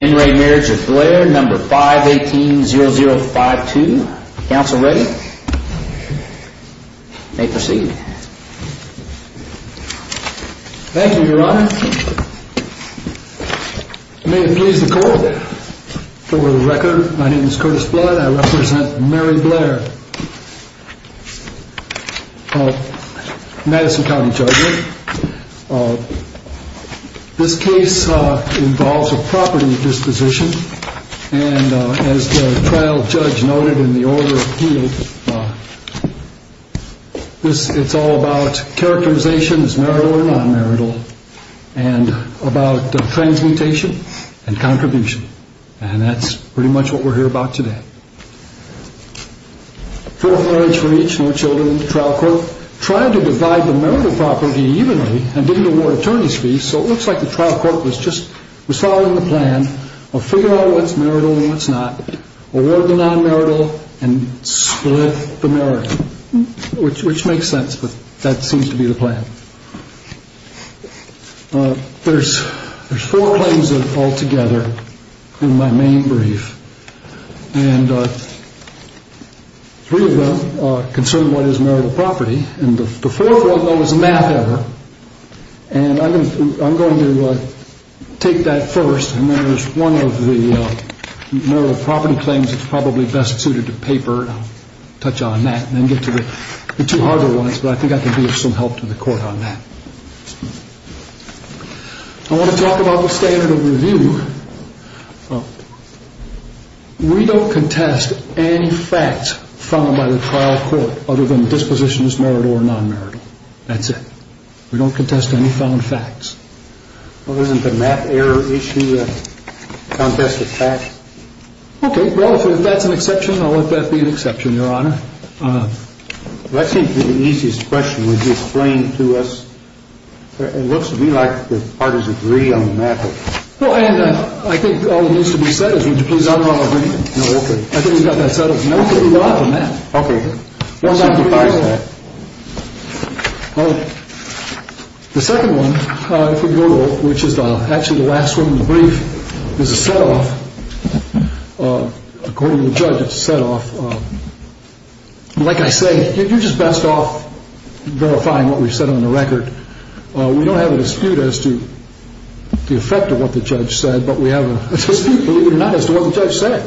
5180052. Counsel ready. You may proceed. Thank you, your honor. May it please the court, for the record, my name is Curtis Blood, I represent Mary Blair, Madison County Judge. This case involves a property disposition, and as the trial judge noted in the order appealed, it's all about characterizations, marital or non-marital, and about transmutation and contribution. And that's pretty much what we're here about today. Full of marriage for each, no children, the trial court tried to divide the marital property evenly and didn't award attorney's fees, so it looks like the trial court was just following the plan of figure out what's marital and what's not, award the non-marital and split the marital, which makes sense, but that seems to be the plan. There's four claims that fall together in my main brief, and three of them concern what is marital property, and the fourth one is math error, and I'm going to take that first, and there's one of the marital property claims that's probably best suited to paper, I'll touch on that and then get to the two other ones, but I think I can be of some help to the court on that. I want to talk about the standard of review. We don't contest any facts found by the trial court other than dispositions marital or non-marital, that's it. We don't contest any found facts. Well, isn't the math error issue a contest of facts? Okay, well, if that's an exception, I'll let that be an exception, Your Honor. Well, I think the easiest question, would you explain to us, it looks to me like the parties agree on the math. Well, and I think all that needs to be said is, would you please honor our agreement? No, okay. I think we've got that settled. No, we've got it on the map. Okay, we'll sacrifice that. The second one, if we go to it, which is actually the last one in the brief, is a set-off. According to the judge, it's a set-off. Like I say, you're just best off verifying what we've said on the record. We don't have a dispute as to the effect of what the judge said, but we have a dispute, believe it or not, as to what the judge said.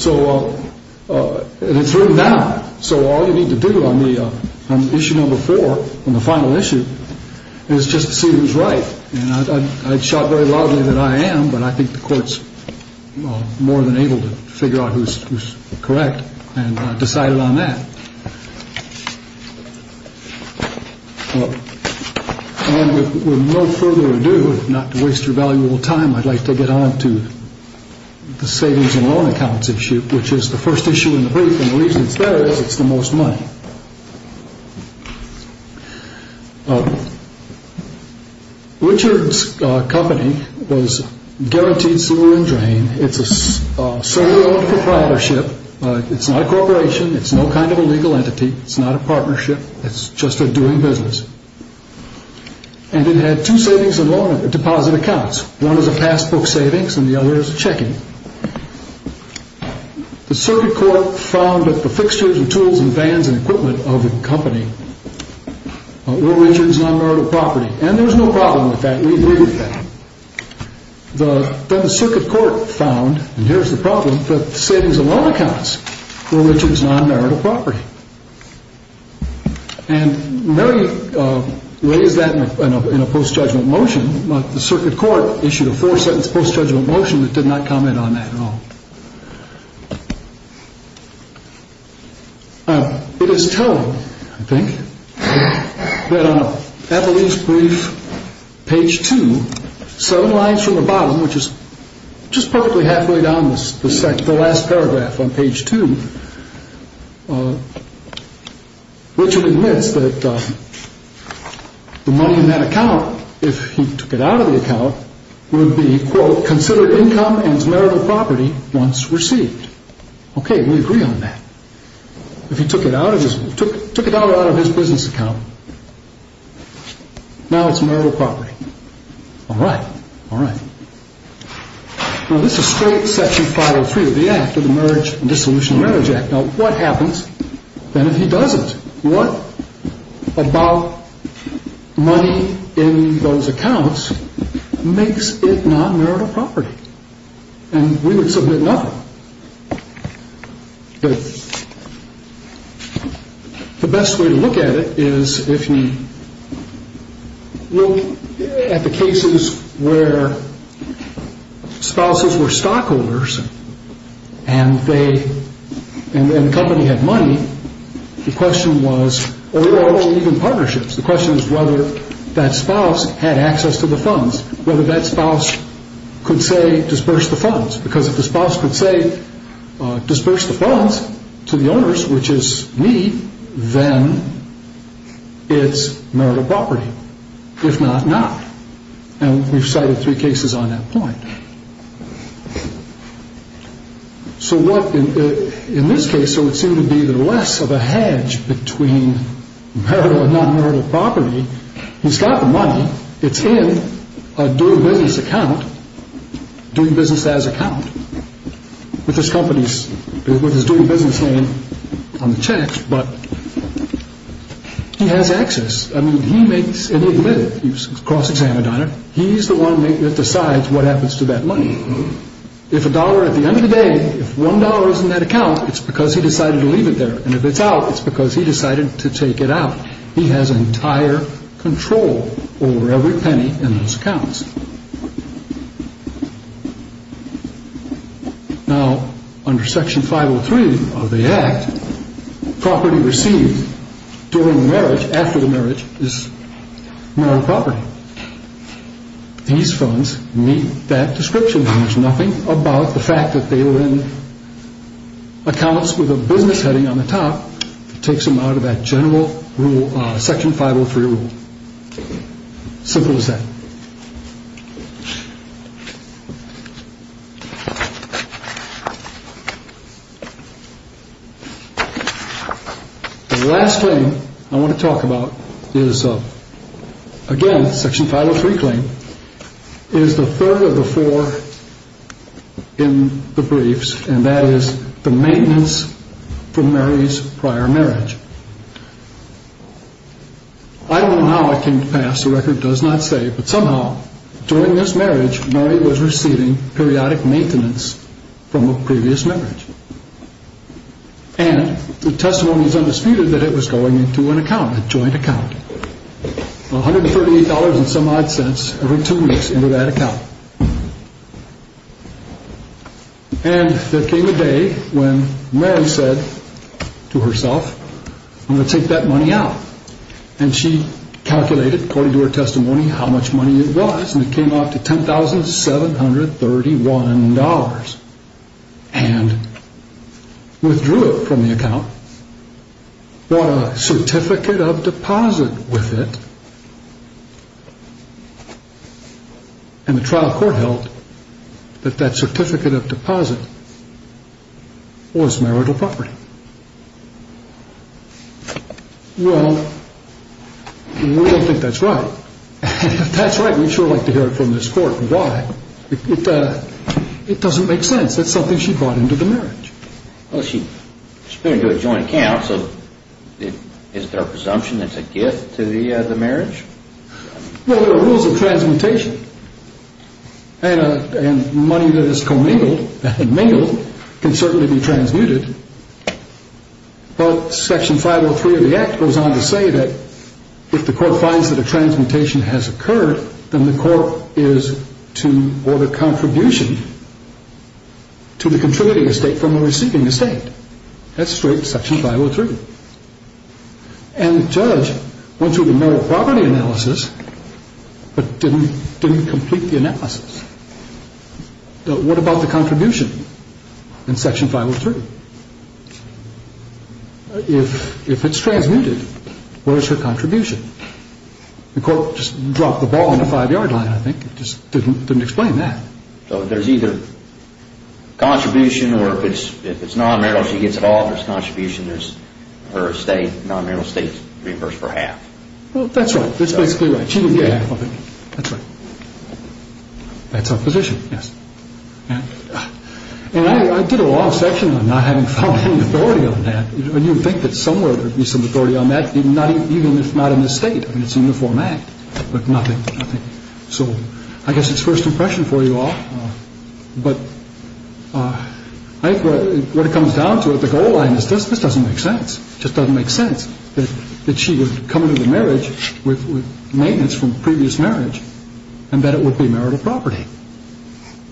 So, and it's written down, so all you need to do on the issue number four, on the final issue, is just to see who's right. And I'd shout very loudly that I am, but I think the court's more than able to figure out who's correct and decided on that. And with no further ado, not to waste your valuable time, I'd like to get on to the savings and loan accounts issue, which is the first issue in the brief, and the reason it's there is it's the most money. Richard's company was guaranteed sewer and drain. It's a solely owned proprietorship. It's not a corporation. It's no kind of a legal entity. It's not a partnership. It's just a doing business. And it had two savings and loan deposit accounts. One was a passbook savings and the other was a check-in. The circuit court found that the fixtures and tools and vans and equipment of the company were Richard's non-merit property. And there was no problem with that. We agreed with that. Then the circuit court found, and here's the problem, that the savings and loan accounts were Richard's non-merit property. And Mary raised that in a post-judgment motion, but the circuit court issued a four-sentence post-judgment motion that did not comment on that at all. It is told, I think, that on Avalee's brief, page two, seven lines from the bottom, which is just perfectly halfway down the last paragraph on page two, Richard admits that the money in that account would be, quote, considered income as merit of property once received. Okay, we agree on that. If he took it out of his business account, now it's merit of property. All right. All right. Now, this is straight Section 503 of the Act of the Marriage and Dissolution of Marriage Act. Now, what happens then if he doesn't? What about money in those accounts makes it non-merit of property? And we would submit nothing. The best way to look at it is if you look at the cases where spouses were and the company had money, the question was, or even partnerships, the question is whether that spouse had access to the funds, whether that spouse could say, disperse the funds. Because if the spouse could say disperse the funds to the owners, which is me, then it's merit of property. If not, not. And we've cited three cases on that point. So what, in this case, it would seem to be less of a hedge between merit or non-merit of property. He's got the money. It's in a doing business account, doing business as account, with his company's, with his doing business name on the checks, but he has access. I mean, he makes, and he'd live it. He's cross-examined on it. He's the one that decides what happens to that money. If a dollar, at the end of the day, if one dollar is in that account, it's because he decided to leave it there. And if it's out, it's because he decided to take it out. He has entire control over every penny in those accounts. Now, under Section 503 of the Act, property received during marriage, after the marriage, is merit of property. These funds meet that description. There's nothing about the fact that they were in accounts with a business heading on the top that takes them out of that general rule, Section 503 rule. Simple as that. The last thing I want to talk about is, again, Section 503 claim, is the third of the four in the briefs, and that is the maintenance from Mary's prior marriage. I don't know how it came to pass, the record does not say, but somehow, during this marriage, Mary was receiving periodic maintenance from a previous marriage. And the testimony is undisputed that it was going into an account, a joint account. $138 and some odd cents every two weeks into that account. And there came a day when Mary said to herself, I'm going to take that money out. And she calculated, according to her testimony, how much money it was, and it came out to $10,731. And withdrew it from the account, bought a certificate of deposit with it, and the trial court held that that certificate of deposit was marital property. Well, we don't think that's right. If that's right, we'd sure like to hear it from this court. Why? It doesn't make sense. That's something she brought into the marriage. Well, she spent it into a joint account, so is there a presumption that it's a gift to the marriage? Well, there are rules of transmutation. And money that is commingled, mingled, can certainly be transmuted. But Section 503 of the Act goes on to say that if the court finds that a transmutation has occurred, then the court is to order contribution to the contributing estate from the receiving estate. That's straight Section 503. And the judge went through the marital property analysis, but didn't complete the analysis. What about the contribution in Section 503? If it's transmuted, where is her contribution? The court just dropped the ball on the five-yard line, I think. It just didn't explain that. So there's either contribution, or if it's non-marital, she gets it all, if it's contribution, her estate, non-marital estate is reimbursed for half. Well, that's right. That's basically right. She didn't get half of it. That's right. That's her position, yes. And I did a long section on not having found any authority on that. And you would think that somewhere there would be some authority on that, even if not in this State. I mean, it's a Uniform Act, but nothing. So I guess it's first impression for you all. But I think what it comes down to is the goal line is this. This doesn't make sense. It just doesn't make sense that she would come into the marriage with maintenance from previous marriage and that it would be marital property.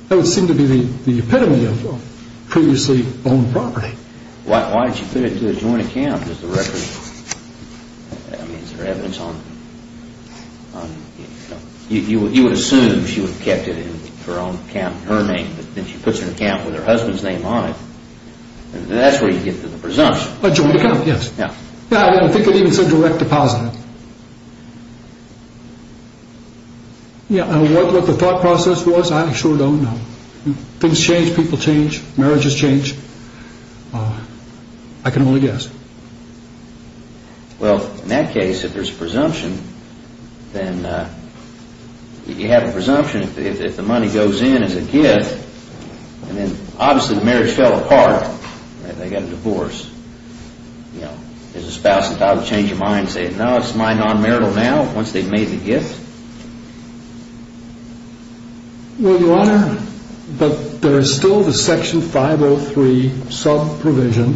That would seem to be the epitome of previously owned property. Why did she put it into a joint account? Does the record... I mean, is there evidence on... You would assume she would have kept it in her own account, her name, but then she puts her account with her husband's name on it. That's where you get to the presumption. A joint account, yes. Yeah. I don't think it's a direct deposit. Yeah, and what the thought process was, I sure don't know. Things change, people change, marriages change. I can only guess. Well, in that case, if there's a presumption, then you have a presumption if the money goes in as a gift, and then obviously the marriage fell apart and they got a divorce. You know, does the spouse and child change their mind and say, no, it's my non-marital now, once they've made the gift? Well, Your Honor, but there's still the Section 503 sub-provision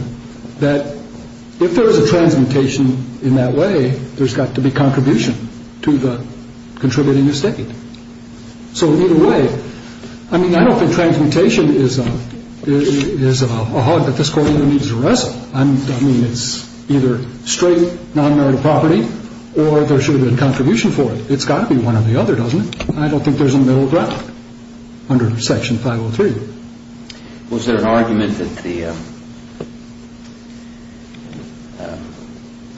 that if there's a transmutation in that way, there's got to be contribution to the contributing estate. So either way, I mean, I don't think transmutation is a hog that this Court needs to wrestle. I mean, it's either straight non-marital property or there should have been contribution for it. But it's got to be one or the other, doesn't it? I don't think there's a middle ground under Section 503. Was there an argument that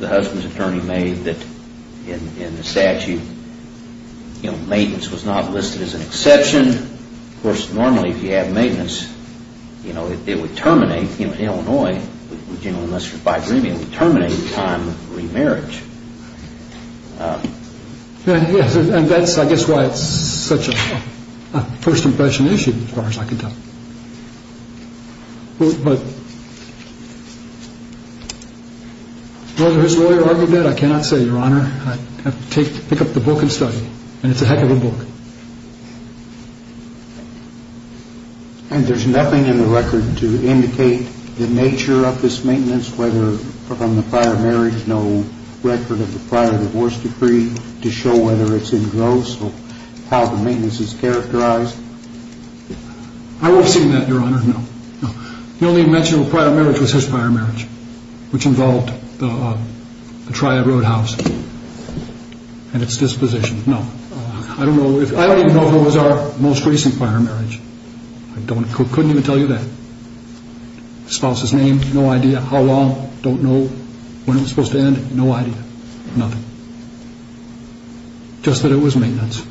the husband's attorney made that in the statute, you know, maintenance was not listed as an exception? Of course, normally, if you have maintenance, you know, it would terminate, you know, in Illinois, you know, unless you're bi-gremial, terminate in time of remarriage. And that's, I guess, why it's such a first impression issue, as far as I can tell. But whether his lawyer argued that, I cannot say, Your Honor. I'd have to pick up the book and study. And it's a heck of a book. And there's nothing in the record to indicate the nature of this maintenance, whether from the prior marriage, no record of the prior divorce decree, to show whether it's in gross or how the maintenance is characterized? I haven't seen that, Your Honor, no. The only mention of a prior marriage was his prior marriage, which involved the Triad Roadhouse and its disposition. No, I don't even know if it was our most recent prior marriage. I couldn't even tell you that. Spouse's name, no idea how long, don't know when it was supposed to end, no idea. Nothing. Just that it was maintenance.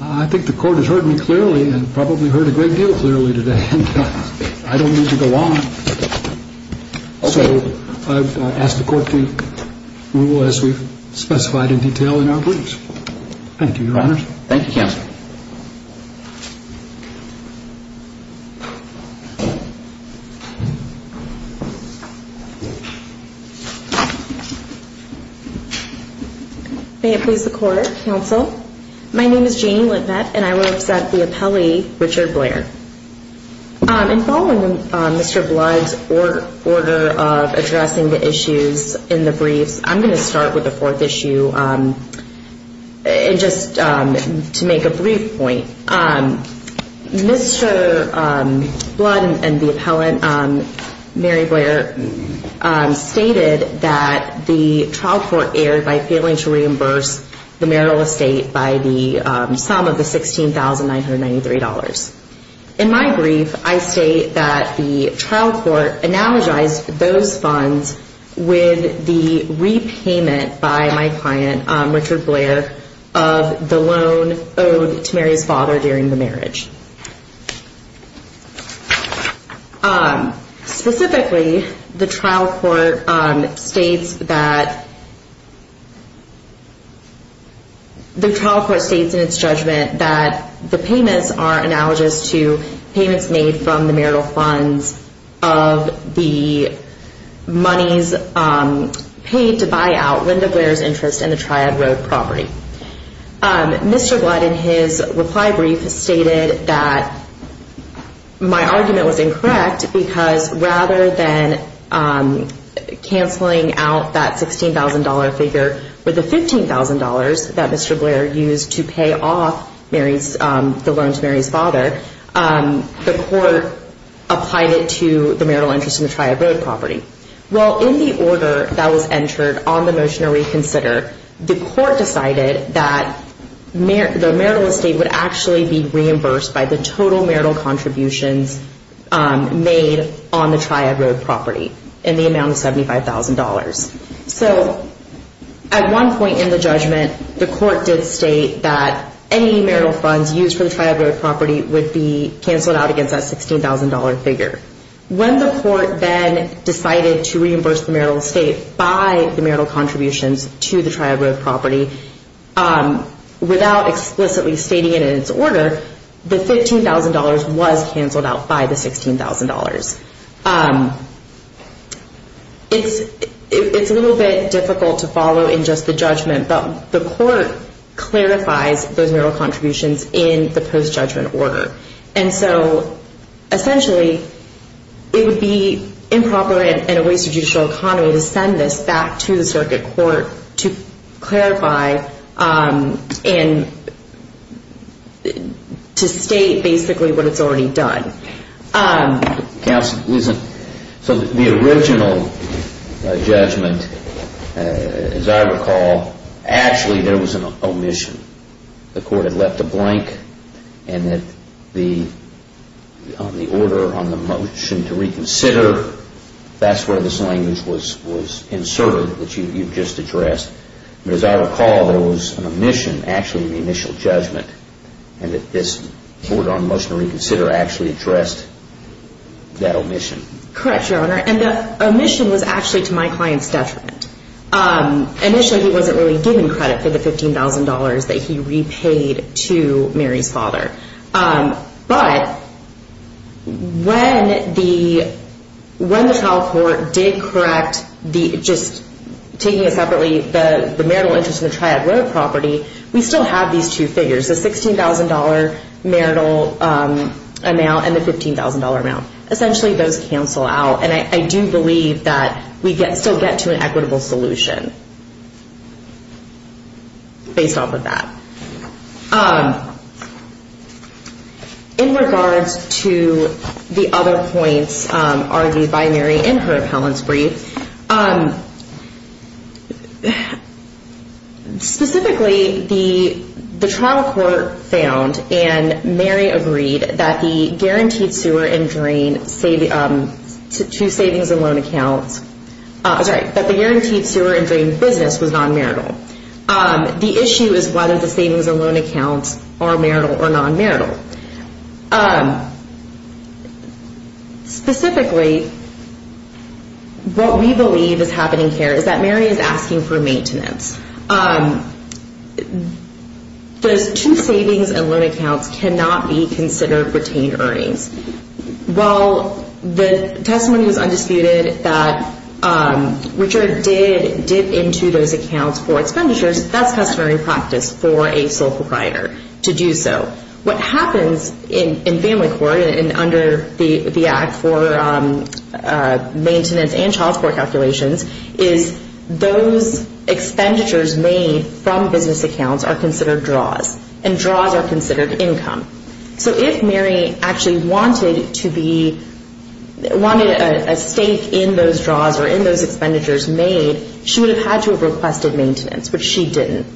I think the Court has heard me clearly and probably heard a great deal clearly today. I don't need to go on. So I've asked the Court to rule as we've specified in detail in our briefs. Thank you, Your Honor. Thank you, Counsel. May it please the Court, Counsel. My name is Janie Lintnett, and I will accept the appellee, Richard Blair. In following Mr. Blood's order of addressing the issues in the briefs, I'm going to start with the fourth issue. And just to make a brief point, Mr. Blood and the appellant, Mary Blair, stated that the trial court erred by failing to reimburse the marital estate by the sum of the $16,993. In my brief, I state that the trial court analogized those funds with the repayment by my client, Richard Blair, of the loan owed to Mary's father during the marriage. Specifically, the trial court states that the trial court states in its judgment that the payments are analogous to payments made from the marital funds of the monies paid to buy out Linda Blair's interest in the Triad Road property. Mr. Blood, in his reply brief, stated that my argument was incorrect because rather than canceling out that $16,000 figure with the $15,000 that Mr. Blair used to pay off the loan to Mary's father, the court applied it to the marital interest in the Triad Road property. Well, in the order that was entered on the motion to reconsider, the court decided that the marital estate would actually be reimbursed by the total marital contributions made on the Triad Road property in the amount of $75,000. So at one point in the judgment, the court did state that any marital funds used for the Triad Road property would be canceled out against that $16,000 figure. When the court then decided to reimburse the marital estate by the marital contributions to the Triad Road property without explicitly stating it in its order, the $15,000 was canceled out by the $16,000. It's a little bit difficult to follow in just the judgment, but the court clarifies those marital contributions in the post-judgment order. And so, essentially, it would be improper and a waste of judicial autonomy to send this back to the circuit court to clarify and to state basically what it's already done. Counsel, listen. So the original judgment, as I recall, actually there was an omission. The court had left a blank and that the order on the motion to reconsider, that's where this language was inserted that you just addressed. But as I recall, there was an omission actually in the initial judgment and that this order on the motion to reconsider actually addressed that omission. Correct, Your Honor. And the omission was actually to my client's detriment. Initially, he wasn't really given credit for the $15,000 that he repaid to Mary's father. But when the trial court did correct just taking separately the marital interest in the Triad Road property, we still have these two figures, the $16,000 marital amount and the $15,000 amount. Essentially, those cancel out. And I do believe that we still get to an equitable solution based off of that. In regards to the other points argued by Mary in her appellant's brief, specifically, the trial court found and Mary agreed that the guaranteed sewer and drain business was non-marital. The issue is whether the savings and loan accounts are marital or non-marital. Specifically, what we believe is happening here is that Mary is asking for maintenance. Those two savings and loan accounts cannot be considered retained earnings. While the testimony was undisputed that Richard did dip into those accounts for expenditures, that's customary practice for a sole proprietor to do so. What happens in family court and under the Act for Maintenance and Child Support Calculations is those expenditures made from business accounts are considered draws. And draws are considered income. So if Mary actually wanted a stake in those draws or in those expenditures made, she would have had to have requested maintenance, but she didn't.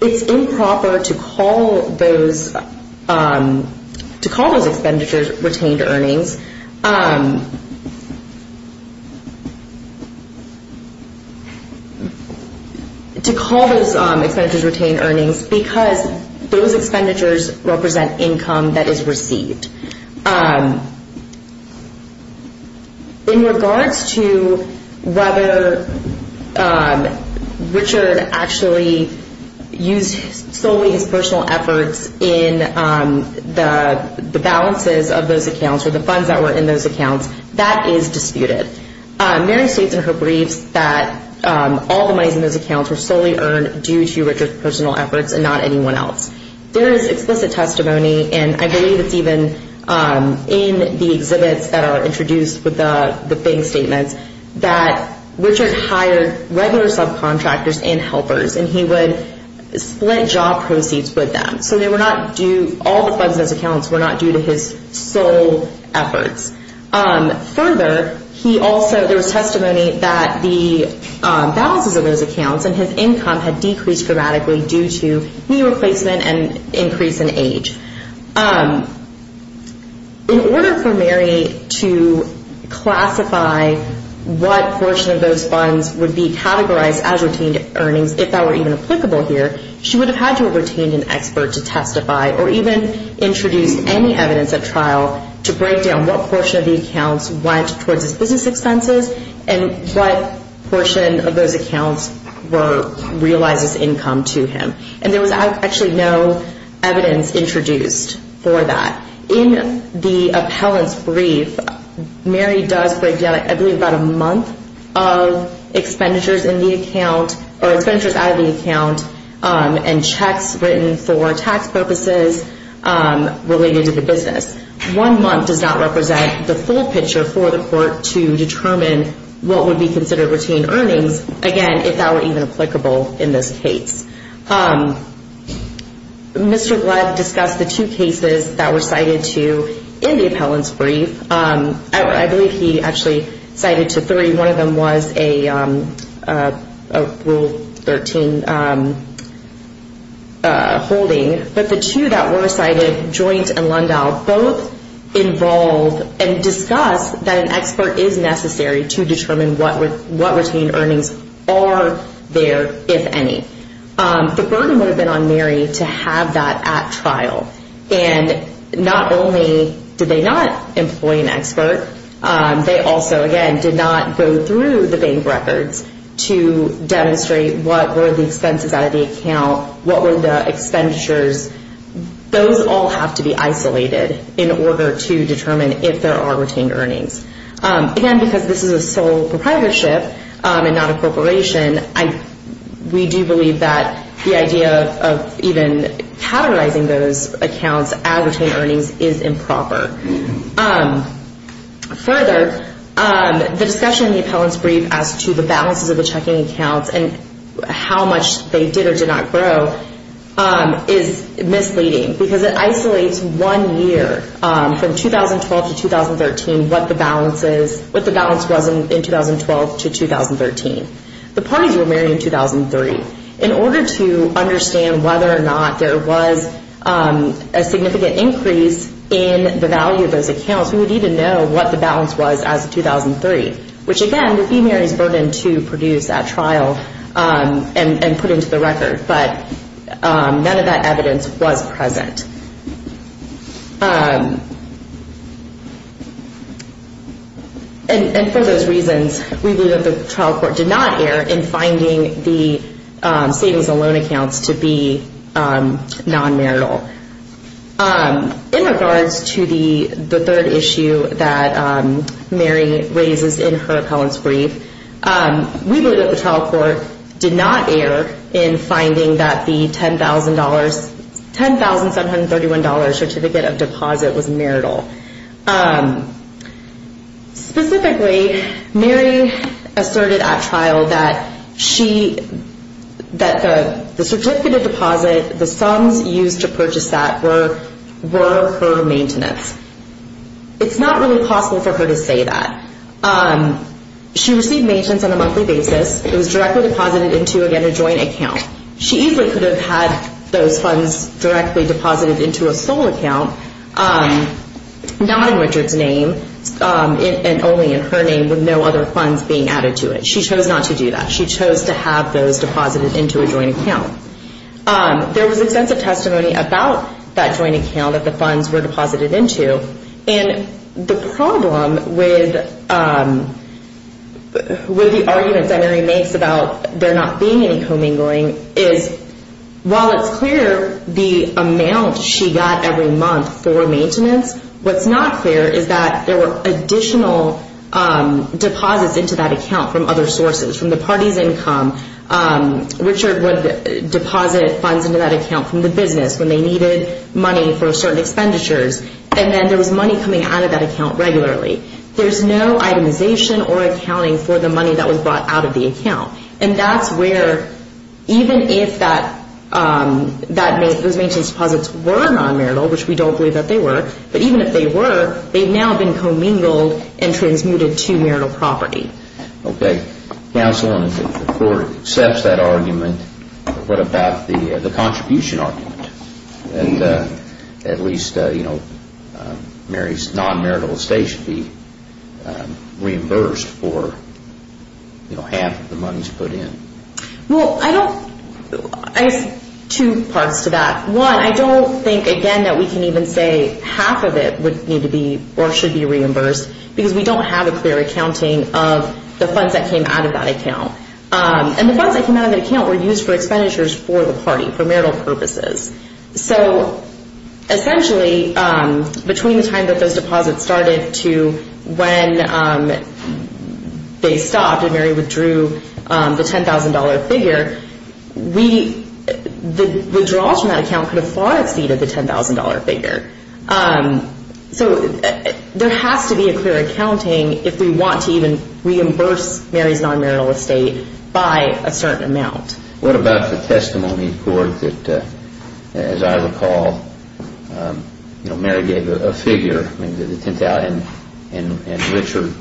It's improper to call those expenditures retained earnings because those expenditures represent income that is received. In regards to whether Richard actually used solely his personal efforts in the balances of those accounts or the funds that were in those accounts, that is disputed. Mary states in her briefs that all the monies in those accounts were solely earned due to Richard's personal efforts and not anyone else. There is explicit testimony, and I believe it's even in the exhibits that are introduced with the bank statements, that Richard hired regular subcontractors and helpers and he would split job proceeds with them. So all the funds in those accounts were not due to his sole efforts. Further, there was testimony that the balances of those accounts and his income had decreased dramatically due to knee replacement and increase in age. In order for Mary to classify what portion of those funds would be categorized as retained earnings, if that were even applicable here, she would have had to have retained an expert to testify or even introduce any evidence at trial to break down what portion of the accounts went towards his business expenses and what portion of those accounts realized as income to him. And there was actually no evidence introduced for that. In the appellant's brief, Mary does break down, I believe, about a month of expenditures in the account or expenditures out of the account and checks written for tax purposes related to the business. One month does not represent the full picture for the court to determine what would be considered retained earnings, again, if that were even applicable in this case. Mr. Glenn discussed the two cases that were cited in the appellant's brief. I believe he actually cited three. One of them was a Rule 13 holding, but the two that were cited, Joint and Lundahl, both involve and discuss that an expert is necessary to determine what retained earnings are there, if any. The burden would have been on Mary to have that at trial. And not only did they not employ an expert, they also, again, did not go through the bank records to demonstrate what were the expenses out of the account, what were the expenditures. Those all have to be isolated in order to determine if there are retained earnings. Again, because this is a sole proprietorship and not a corporation, we do believe that the idea of even categorizing those accounts as retained earnings is improper. Further, the discussion in the appellant's brief as to the balances of the checking accounts and how much they did or did not grow is misleading because it isolates one year from 2012 to 2013 what the balance was in 2012 to 2013. The parties were married in 2003. In order to understand whether or not there was a significant increase in the value of those accounts, we would need to know what the balance was as of 2003, which, again, would be Mary's burden to produce at trial and put into the record. But none of that evidence was present. For those reasons, we believe that the trial court did not err in finding the savings and loan accounts to be non-marital. In regards to the third issue that Mary raises in her appellant's brief, we believe that the trial court did not err in finding that the $10,731 certificate of deposit was marital. Specifically, Mary asserted at trial that the certificate of deposit, the sums used to purchase that were her maintenance. It's not really possible for her to say that. She received maintenance on a monthly basis. It was directly deposited into, again, a joint account. She easily could have had those funds directly deposited into a sole account, not in Richard's name and only in her name with no other funds being added to it. She chose not to do that. She chose to have those deposited into a joint account. There was extensive testimony about that joint account that the funds were deposited into, and the problem with the argument that Mary makes about there not being any commingling is while it's clear the amount she got every month for maintenance, what's not clear is that there were additional deposits into that account from other sources, from the party's income. Richard would deposit funds into that account from the business when they needed money for certain expenditures, and then there was money coming out of that account regularly. There's no itemization or accounting for the money that was brought out of the account, and that's where even if those maintenance deposits were non-marital, which we don't believe that they were, but even if they were, they've now been commingled and transmuted to marital property. Okay. Counsel, if the Court accepts that argument, what about the contribution argument? At least, you know, Mary's non-marital estate should be half the money she put in. Well, I don't... I have two parts to that. One, I don't think, again, that we can even say half of it would need to be or should be reimbursed because we don't have a clear accounting of the funds that came out of that account. And the funds that came out of that account were used for expenditures for the party, for marital purposes. So essentially, between the time that those deposits started to when they stopped and Mary withdrew the $10,000 figure, the withdrawals from that account could have far exceeded the $10,000 figure. So there has to be a clear accounting if we want to even reimburse Mary's non-marital estate by a certain amount. What about the testimony, Court, that, as I recall, you know, Mary gave a figure and Richard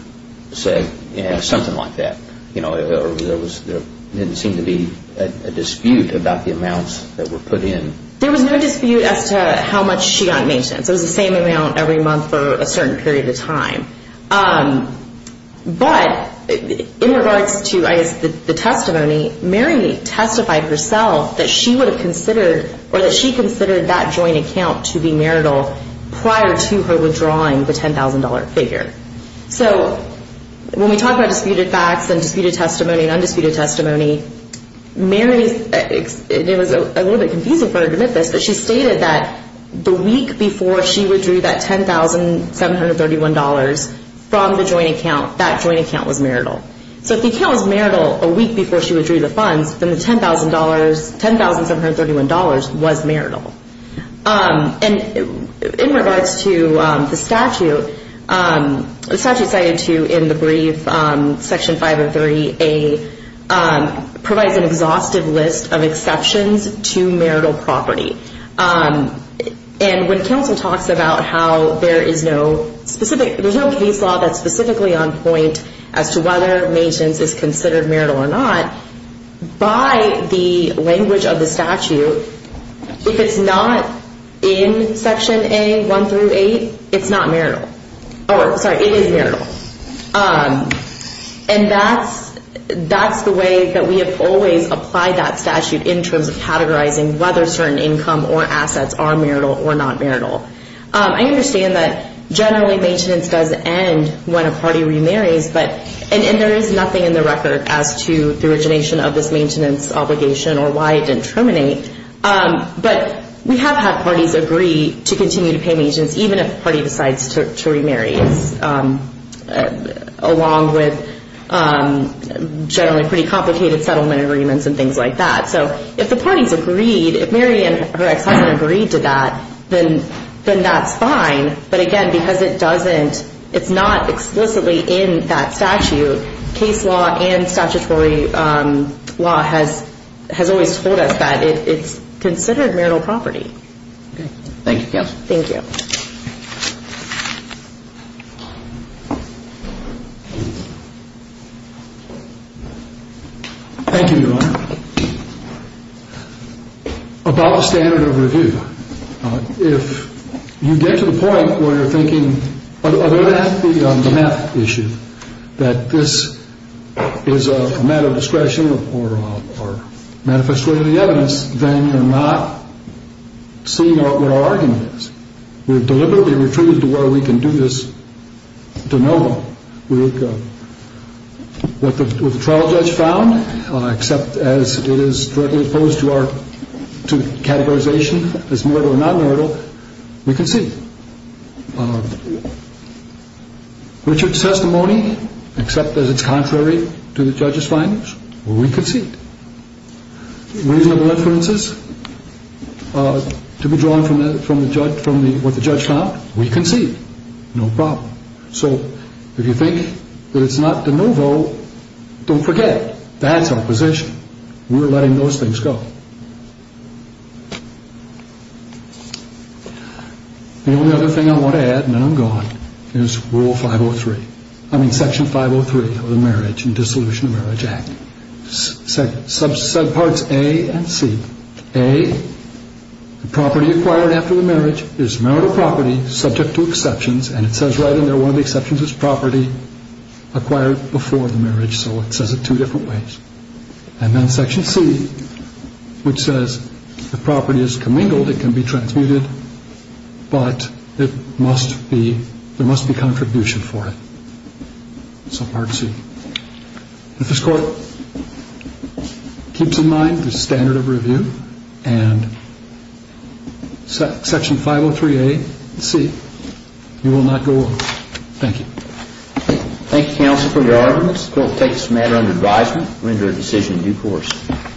said something like that. You know, there didn't seem to be a dispute about the amounts that were put in. There was no dispute as to how much she got mentioned. It was the same amount every month for a certain period of time. But in regards to the testimony, Mary testified herself that she would have considered or that she considered that joint account to be marital prior to her withdrawing the $10,000 figure. So when we talk about disputed facts and disputed testimony and undisputed testimony, Mary, it was a little bit confusing for her to admit this, but she stated that the week before she withdrew that $10,731 from the joint account, that joint account was marital. So if the account was marital a week before she withdrew the funds, then the $10,731 was marital. And in regards to the statute, the statute cited to you in the brief, Section 503A, provides an exhaustive list of exceptions to marital property. And when counsel talks about how there is no specific, there's no case law that's specifically on point as to whether maintenance is considered marital or not, by the language of the statute, if it's not in Section A, 1 through 8, it's not marital. Sorry, it is marital. And that's the way that we have always applied that statute in terms of categorizing whether certain income or assets are marital or not marital. I understand that generally maintenance does end when a party remarries, and there is nothing in the record as to the origination of this maintenance obligation or why it didn't terminate. But we have had parties agree to continue to pay maintenance even if a party decides to remarry, along with generally pretty complicated settlement agreements and things like that. So if the parties agreed, if Mary and her ex-husband agreed to that, then that's fine, but again, because it doesn't, it's not explicitly in that statute, case law and statutory law has always told us that it's considered marital property. Thank you. Thank you. Thank you, Your Honor. About the standard of review, if you get to the point where you're thinking, other than the math issue, that this is a matter of discretion or manifestly in the evidence, then you're not seeing what our argument is. We're deliberately retreated to where we can do this to know what the trial judge found, except as it is directly opposed to categorization as marital or not marital, we concede. Richard's testimony, except as it's contrary to the judge's findings, we concede. Reasonable inferences to be drawn from what the judge found, we concede. No problem. So if you think that it's not de novo, don't forget, that's our position. We're letting those things go. The only other thing I want to add, and then I'm gone, is Rule 503, I mean Section 503 of the Marriage and Dissolution of Marriage Act. Subparts A and C. A, property acquired after the marriage is marital property subject to exceptions, and it says right in there one of the exceptions is property acquired before the marriage, so it says it two different ways. And then Section C, which says the property is commingled, it can be transmuted, but there must be contribution for it. Subpart C. This Court keeps in mind the standard of review and Section 503A and C, you will not go on. Thank you. Thank you, Counsel for your argument. This Court takes this matter under advisement. We render the decision due course.